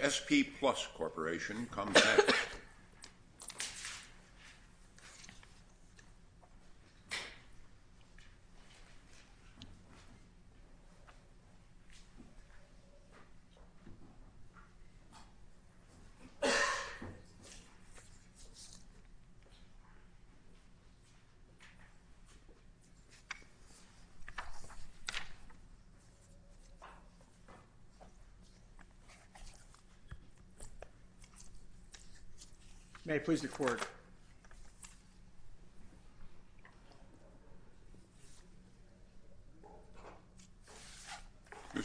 SP Plus Corporation, come back. Mr.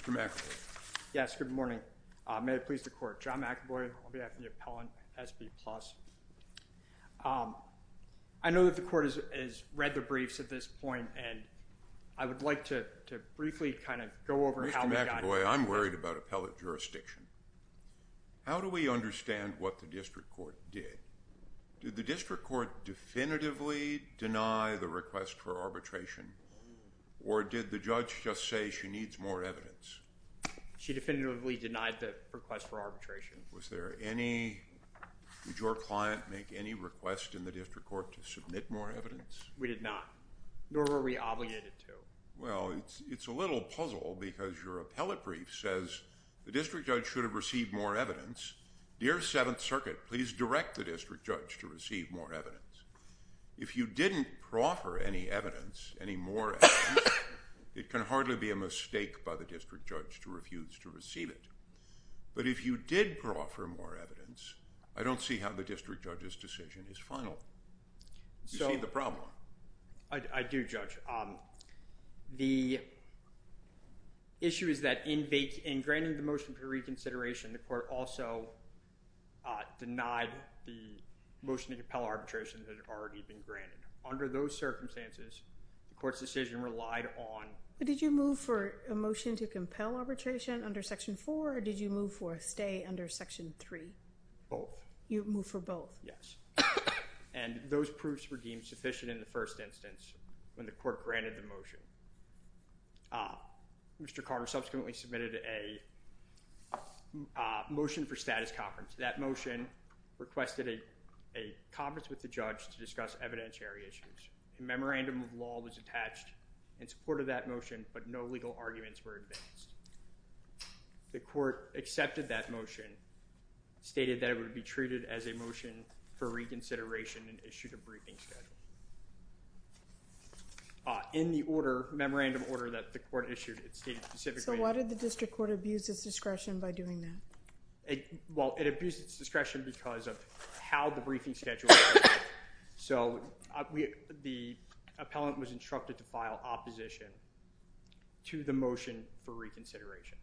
McAvoy. Yes, good morning. May it please the court. John McAvoy, on behalf of the appellant at SP Plus. I know that the court has read the briefs at this point, and I would like to briefly kind of go over how we got here. By the way, I'm worried about appellate jurisdiction. How do we understand what the district court did? Did the district court definitively deny the request for arbitration, or did the judge just say she needs more evidence? She definitively denied the request for arbitration. Was there any, did your client make any request in the district court to submit more evidence? We did not, nor were we obligated to. Well, it's a little puzzle because your appellate brief says the district judge should have received more evidence. Dear Seventh Circuit, please direct the district judge to receive more evidence. If you didn't proffer any evidence, any more evidence, it can hardly be a mistake by the district judge to refuse to receive it. But if you did proffer more evidence, I don't see how the district judge's decision is final. You see the problem. I do, Judge. The issue is that in granting the motion for reconsideration, the court also denied the motion to compel arbitration that had already been granted. Under those circumstances, the court's decision relied on... But did you move for a motion to compel arbitration under Section 4, or did you move for a stay under Section 3? Both. You moved for both? Yes. And those proofs were deemed sufficient in the first instance when the court granted the motion. Mr. Carter subsequently submitted a motion for status conference. That motion requested a conference with the judge to discuss evidentiary issues. A memorandum of law was attached in support of that motion, but no legal arguments were advanced. The court accepted that motion, stated that it would be treated as a motion for reconsideration, and issued a briefing schedule. In the order, memorandum order that the court issued, it stated specifically... So why did the district court abuse its discretion by doing that? Well, it abused its discretion because of how the briefing schedule... So the appellant was instructed to file opposition to the motion for reconsideration.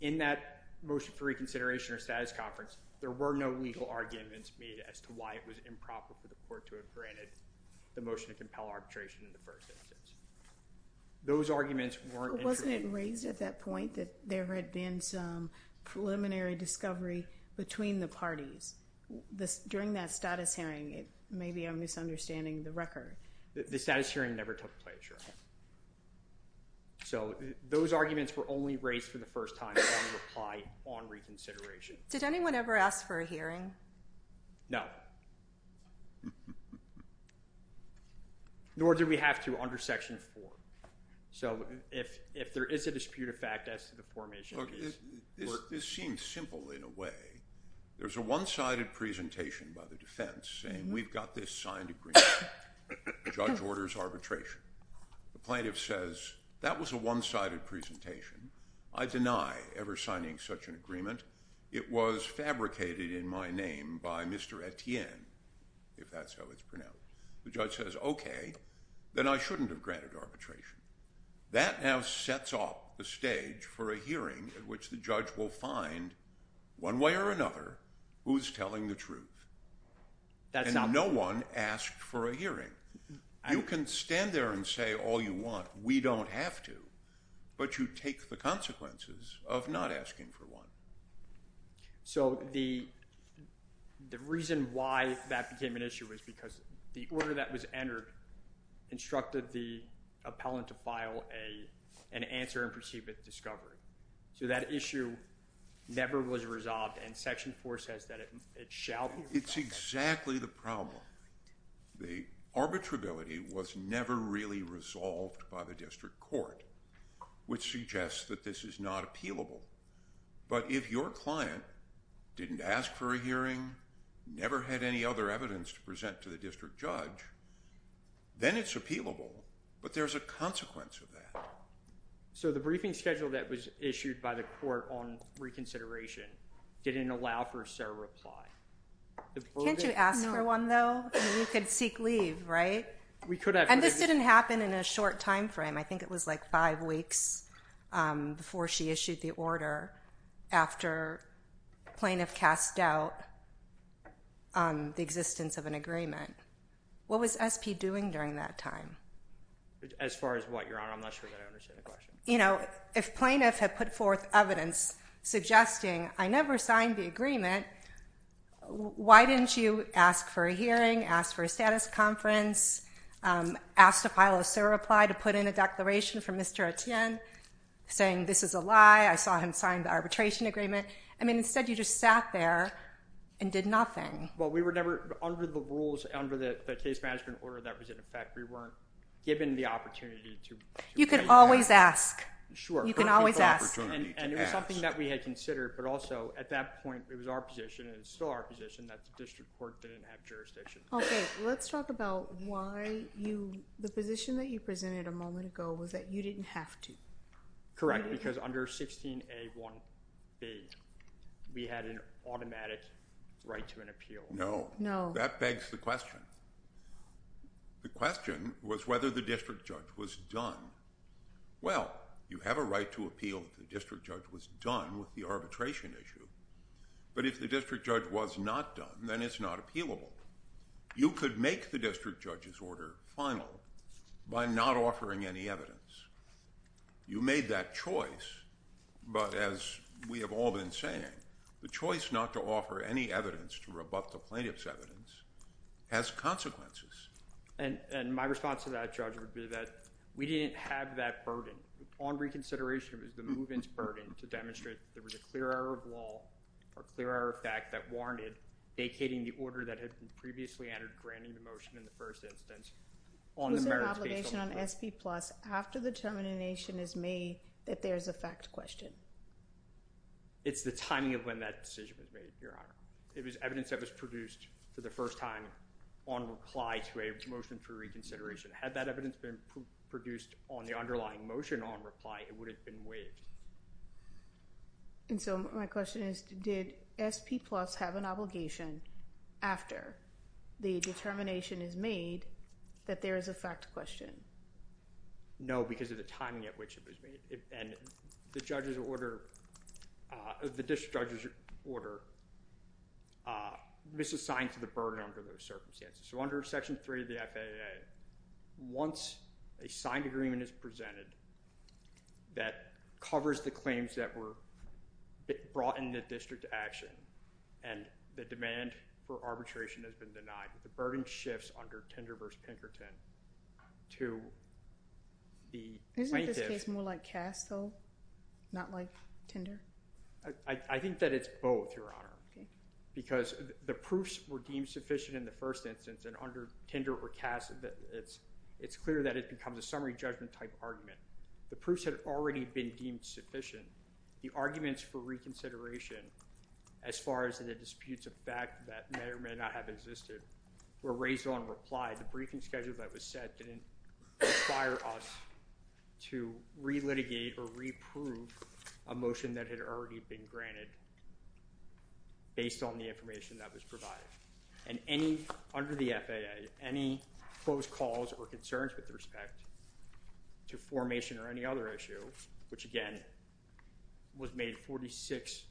In that motion for reconsideration or status conference, there were no legal arguments made as to why it was improper for the court to have granted the motion to compel arbitration in the first instance. Those arguments weren't... Wasn't it raised at that point that there had been some preliminary discovery between the parties? During that status hearing, maybe I'm misunderstanding the record. The status hearing never took place, right? So those arguments were only raised for the first time upon reply on reconsideration. Did anyone ever ask for a hearing? No. Nor did we have to under Section 4. So if there is a dispute of fact as to the formation... This seems simple in a way. There's a one-sided presentation by the defense saying, we've got this signed agreement. The judge orders arbitration. The plaintiff says, that was a one-sided presentation. I deny ever signing such an agreement. It was fabricated in my name by Mr. Etienne, if that's how it's pronounced. The judge says, okay, then I shouldn't have granted arbitration. That now sets off the stage for a hearing in which the judge will find, one way or another, who's telling the truth. And no one asked for a hearing. You can stand there and say all you want. We don't have to. But you take the consequences of not asking for one. So the reason why that became an issue was because the order that was entered instructed the appellant to file an answer and proceed with discovery. So that issue never was resolved, and Section 4 says that it shall be resolved. It's exactly the problem. The arbitrability was never really resolved by the district court, which suggests that this is not appealable. But if your client didn't ask for a hearing, never had any other evidence to present to the district judge, then it's appealable. But there's a consequence of that. So the briefing schedule that was issued by the court on reconsideration didn't allow for a fair reply. Can't you ask for one, though? You could seek leave, right? We could have. And this didn't happen in a short time frame. I think it was like five weeks before she issued the order after plaintiff cast doubt on the existence of an agreement. What was SP doing during that time? As far as what, Your Honor? I'm not sure that I understand the question. You know, if plaintiff had put forth evidence suggesting, I never signed the agreement, why didn't you ask for a hearing, ask for a status conference, ask to file a SIR reply to put in a declaration from Mr. Etienne saying this is a lie, I saw him sign the arbitration agreement? I mean, instead you just sat there and did nothing. Well, we were never under the rules, under the case management order that was in effect. We weren't given the opportunity to raise that. You can always ask. Sure. You can always ask. And it was something that we had considered, but also at that point it was our position and it's still our position that the district court didn't have jurisdiction. Okay, let's talk about why the position that you presented a moment ago was that you didn't have to. Correct, because under 16A1B we had an automatic right to an appeal. No. No. That begs the question. The question was whether the district judge was done. Well, you have a right to appeal if the district judge was done with the arbitration issue, but if the district judge was not done, then it's not appealable. You could make the district judge's order final by not offering any evidence. You made that choice, but as we have all been saying, the choice not to offer any evidence to rebut the plaintiff's evidence has consequences. And my response to that, Judge, would be that we didn't have that burden. On reconsideration, it was the move-in's burden to demonstrate that there was a clear error of law or clear error of fact that warranted vacating the order that had previously entered granting the motion in the first instance. Was there an obligation on SP-plus after the determination is made that there is a fact question? It's the timing of when that decision was made, Your Honor. It was evidence that was produced for the first time on reply to a motion for reconsideration. Had that evidence been produced on the underlying motion on reply, it would have been waived. And so my question is, did SP-plus have an obligation after the determination is made that there is a fact question? No, because of the timing at which it was made. And the judge's order, the district judge's order, was assigned to the burden under those circumstances. So under Section 3 of the FAA, once a signed agreement is presented that covers the claims that were brought in the district to action and the demand for arbitration has been denied, the burden shifts under Tinder v. Pinkerton to the plaintiff. Isn't this case more like CAS, though, not like Tinder? I think that it's both, Your Honor, because the proofs were deemed sufficient in the first instance. And under Tinder or CAS, it's clear that it becomes a summary judgment type argument. The proofs had already been deemed sufficient. The arguments for reconsideration as far as the disputes of fact that may or may not have existed were raised on reply. The briefing schedule that was set didn't require us to re-litigate or re-proof a motion that had already been granted based on the information that was provided. And under the FAA, any close calls or concerns with respect to formation or any other issue, which again was made 46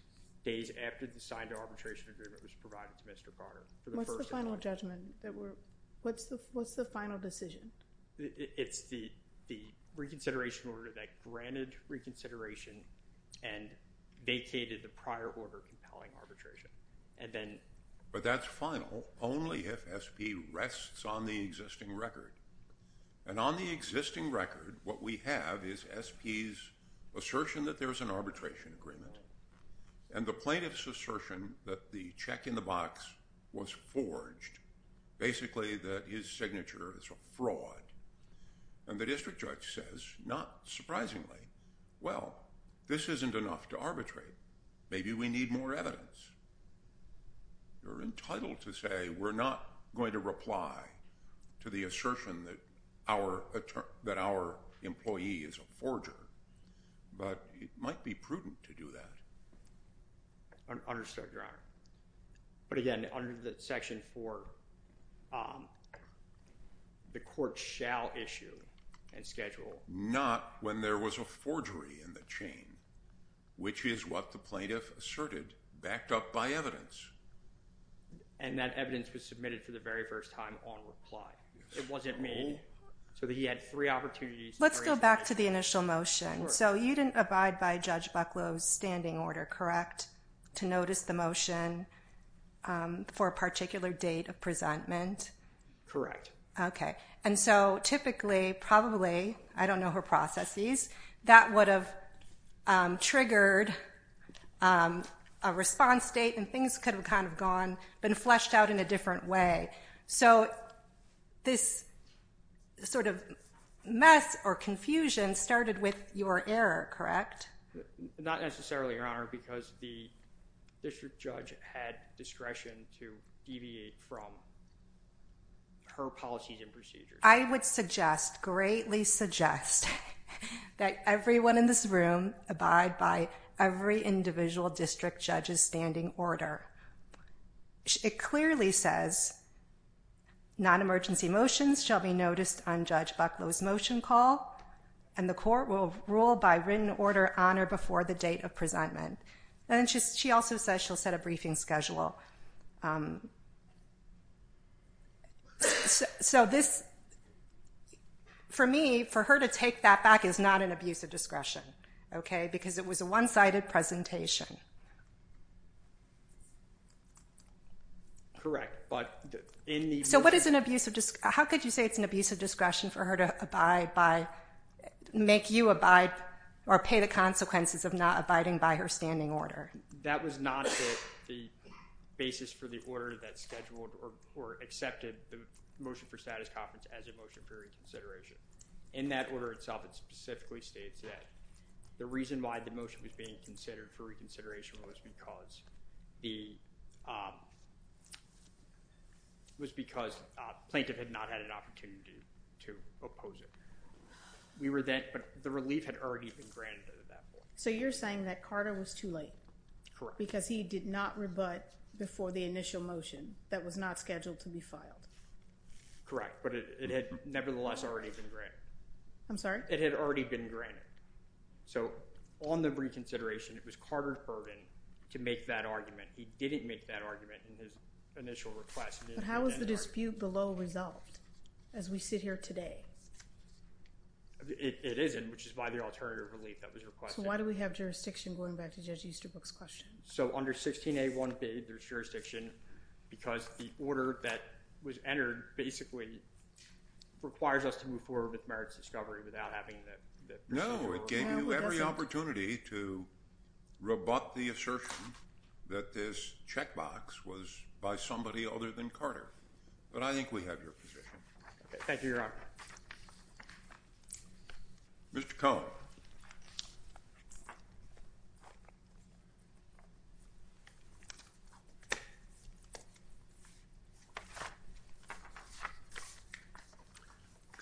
days after the signed arbitration agreement was provided to Mr. Carter. What's the final judgment? What's the final decision? It's the reconsideration order that granted reconsideration and vacated the prior order compelling arbitration. But that's final only if SP rests on the existing record. And on the existing record, what we have is SP's assertion that there's an arbitration agreement and the plaintiff's assertion that the check in the box was forged, basically that his signature is a fraud. And the district judge says, not surprisingly, well, this isn't enough to arbitrate. Maybe we need more evidence. You're entitled to say we're not going to reply to the assertion that our employee is a forger. But it might be prudent to do that. Understood, Your Honor. But again, under the section 4, the court shall issue and schedule. Not when there was a forgery in the chain, which is what the plaintiff asserted, backed up by evidence. And that evidence was submitted for the very first time on reply. It wasn't made so that he had three opportunities. Let's go back to the initial motion. So you didn't abide by Judge Bucklow's standing order, correct, to notice the motion for a particular date of presentment? Correct. Okay. And so typically, probably, I don't know her processes, that would have triggered a response date and things could have kind of gone, been fleshed out in a different way. So this sort of mess or confusion started with your error, correct? Not necessarily, Your Honor, because the district judge had discretion to deviate from her policies and procedures. I would suggest, greatly suggest, that everyone in this room abide by every individual district judge's standing order. It clearly says, non-emergency motions shall be noticed on Judge Bucklow's motion call, and the court will rule by written order on or before the date of presentment. And she also says she'll set a briefing schedule. So this, for me, for her to take that back is not an abuse of discretion, okay, because it was a one-sided presentation. Correct. So what is an abuse of, how could you say it's an abuse of discretion for her to abide by, make you abide, or pay the consequences of not abiding by her standing order? That was not the basis for the order that scheduled or accepted the motion for status conference as a motion for reconsideration. In that order itself, it specifically states that the reason why the motion was being considered for reconsideration was because the, was because plaintiff had not had an opportunity to oppose it. We were then, but the relief had already been granted at that point. So you're saying that Carter was too late. Because he did not rebut before the initial motion that was not scheduled to be filed. Correct, but it had nevertheless already been granted. I'm sorry? It had already been granted. So on the reconsideration, it was Carter's burden to make that argument. He didn't make that argument in his initial request. But how was the dispute below resolved as we sit here today? It isn't, which is by the alternative relief that was requested. So why do we have jurisdiction going back to Judge Easterbrook's question? So under 16A1B, there's jurisdiction because the order that was entered basically requires us to move forward with merits discovery without having the procedural. No, it gave you every opportunity to rebut the assertion that this checkbox was by somebody other than Carter. But I think we have your position. Thank you, Your Honor. Mr. Cohen.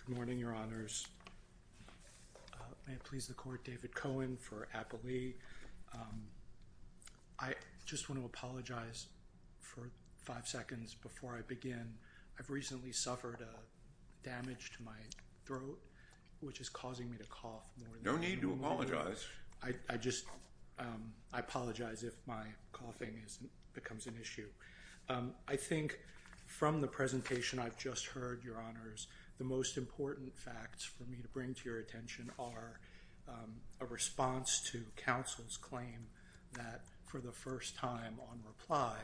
Good morning, Your Honors. May it please the Court, David Cohen for Applee. I just want to apologize for five seconds before I begin. I've recently suffered damage to my throat, which is causing me to cough more than normally. No need to apologize. I just apologize if my coughing becomes an issue. I think from the presentation I've just heard, Your Honors, the most important facts for me to bring to your attention are a response to counsel's claim that for the first time on reply,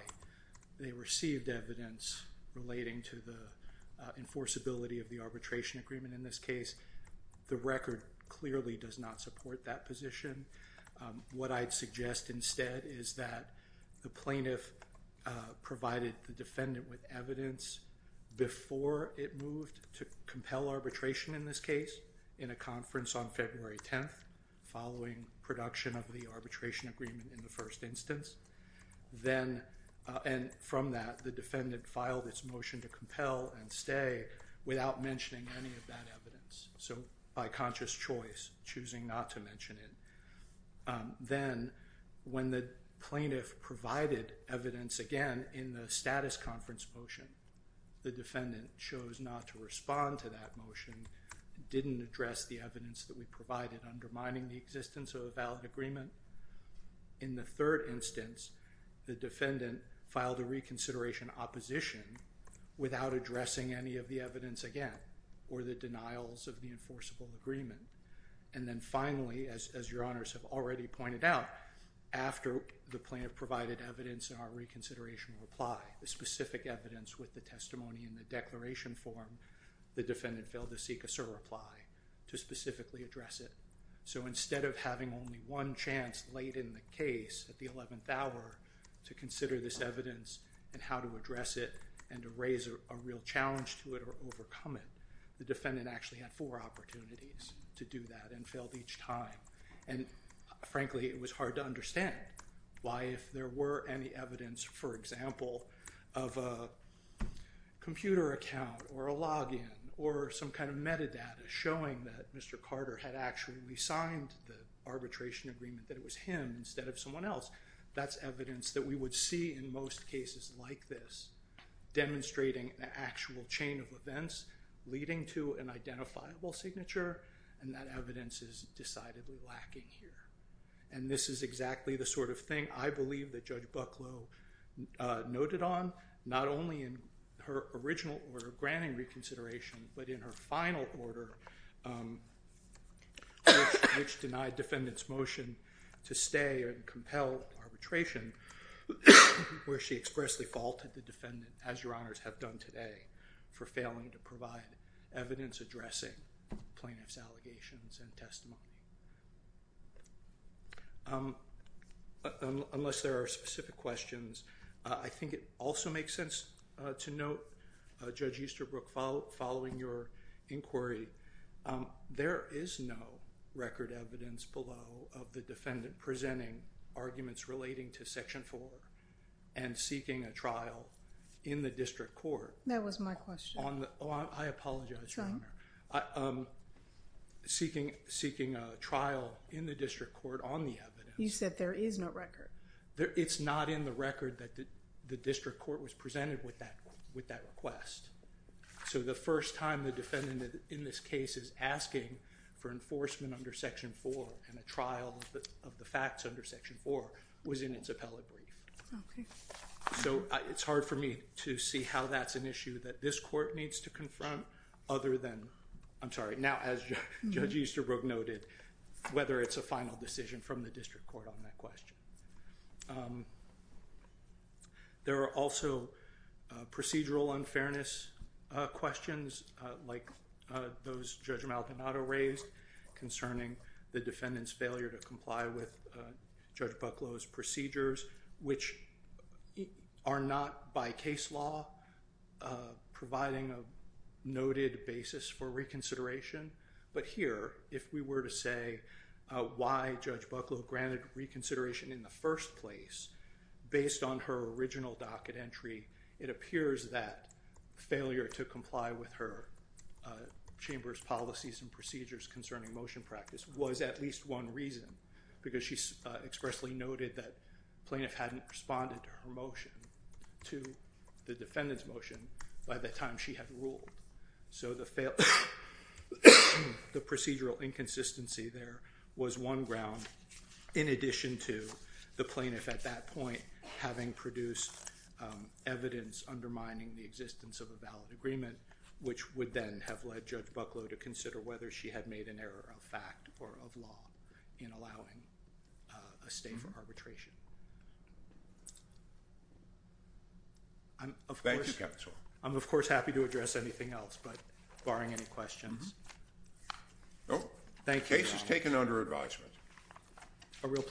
they received evidence relating to the enforceability of the arbitration agreement. In this case, the record clearly does not support that position. What I'd suggest instead is that the plaintiff provided the defendant with evidence before it moved to compel arbitration in this case in a conference on February 10th, following production of the arbitration agreement in the first instance. And from that, the defendant filed its motion to compel and stay without mentioning any of that evidence. So by conscious choice, choosing not to mention it. Then when the plaintiff provided evidence again in the status conference motion, the defendant chose not to respond to that motion, didn't address the evidence that we provided undermining the existence of a valid agreement. In the third instance, the defendant filed a reconsideration opposition without addressing any of the evidence again or the denials of the enforceable agreement. And then finally, as Your Honors have already pointed out, after the plaintiff provided evidence in our reconsideration reply, the specific evidence with the testimony in the declaration form, the defendant failed to seek us a reply to specifically address it. So instead of having only one chance late in the case at the 11th hour to consider this evidence and how to address it and to raise a real challenge to it or overcome it, the defendant actually had four opportunities to do that and failed each time. And frankly, it was hard to understand why if there were any evidence, for example, of a computer account or a login or some kind of metadata showing that Mr. Carter had actually resigned the arbitration agreement that it was him instead of someone else, that's evidence that we would see in most cases like this demonstrating an actual chain of events leading to an identifiable signature. And that evidence is decidedly lacking here. And this is exactly the sort of thing I believe that Judge Bucklow noted on, not only in her original order of granting reconsideration, but in her final order which denied defendant's motion to stay and compel arbitration where she expressly faulted the defendant, as your honors have done today, for failing to provide evidence addressing plaintiff's allegations and testimony. Unless there are specific questions, I think it also makes sense to note, Judge Easterbrook, following your inquiry, there is no record evidence below of the defendant presenting arguments relating to Section 4 and seeking a trial in the district court. That was my question. Oh, I apologize, Your Honor. Go ahead. Seeking a trial in the district court on the evidence. You said there is no record. It's not in the record that the district court was presented with that request. So the first time the defendant in this case is asking for enforcement under Section 4 and a trial of the facts under Section 4 was in its appellate brief. Okay. So it's hard for me to see how that's an issue that this court needs to confront other than, I'm sorry, now as Judge Easterbrook noted, whether it's a final decision from the district court on that question. There are also procedural unfairness questions like those Judge Maldonado raised concerning the defendant's failure to comply with Judge Bucklow's procedures, which are not by case law providing a noted basis for reconsideration. But here, if we were to say why Judge Bucklow granted reconsideration in the first place based on her original docket entry, it appears that failure to comply with her chamber's policies and procedures concerning motion practice was at least one reason, because she expressly noted that plaintiff hadn't responded to her motion to the defendant's motion by the time she had ruled. So the procedural inconsistency there was one ground in addition to the plaintiff, at that point, having produced evidence undermining the existence of a valid agreement, which would then have led Judge Bucklow to consider whether she had made an error of fact or of law in allowing a state for arbitration. Thank you, Counsel. I'm, of course, happy to address anything else, but barring any questions. Nope. Thank you, Your Honor. Case is taken under advisement. A real pleasure.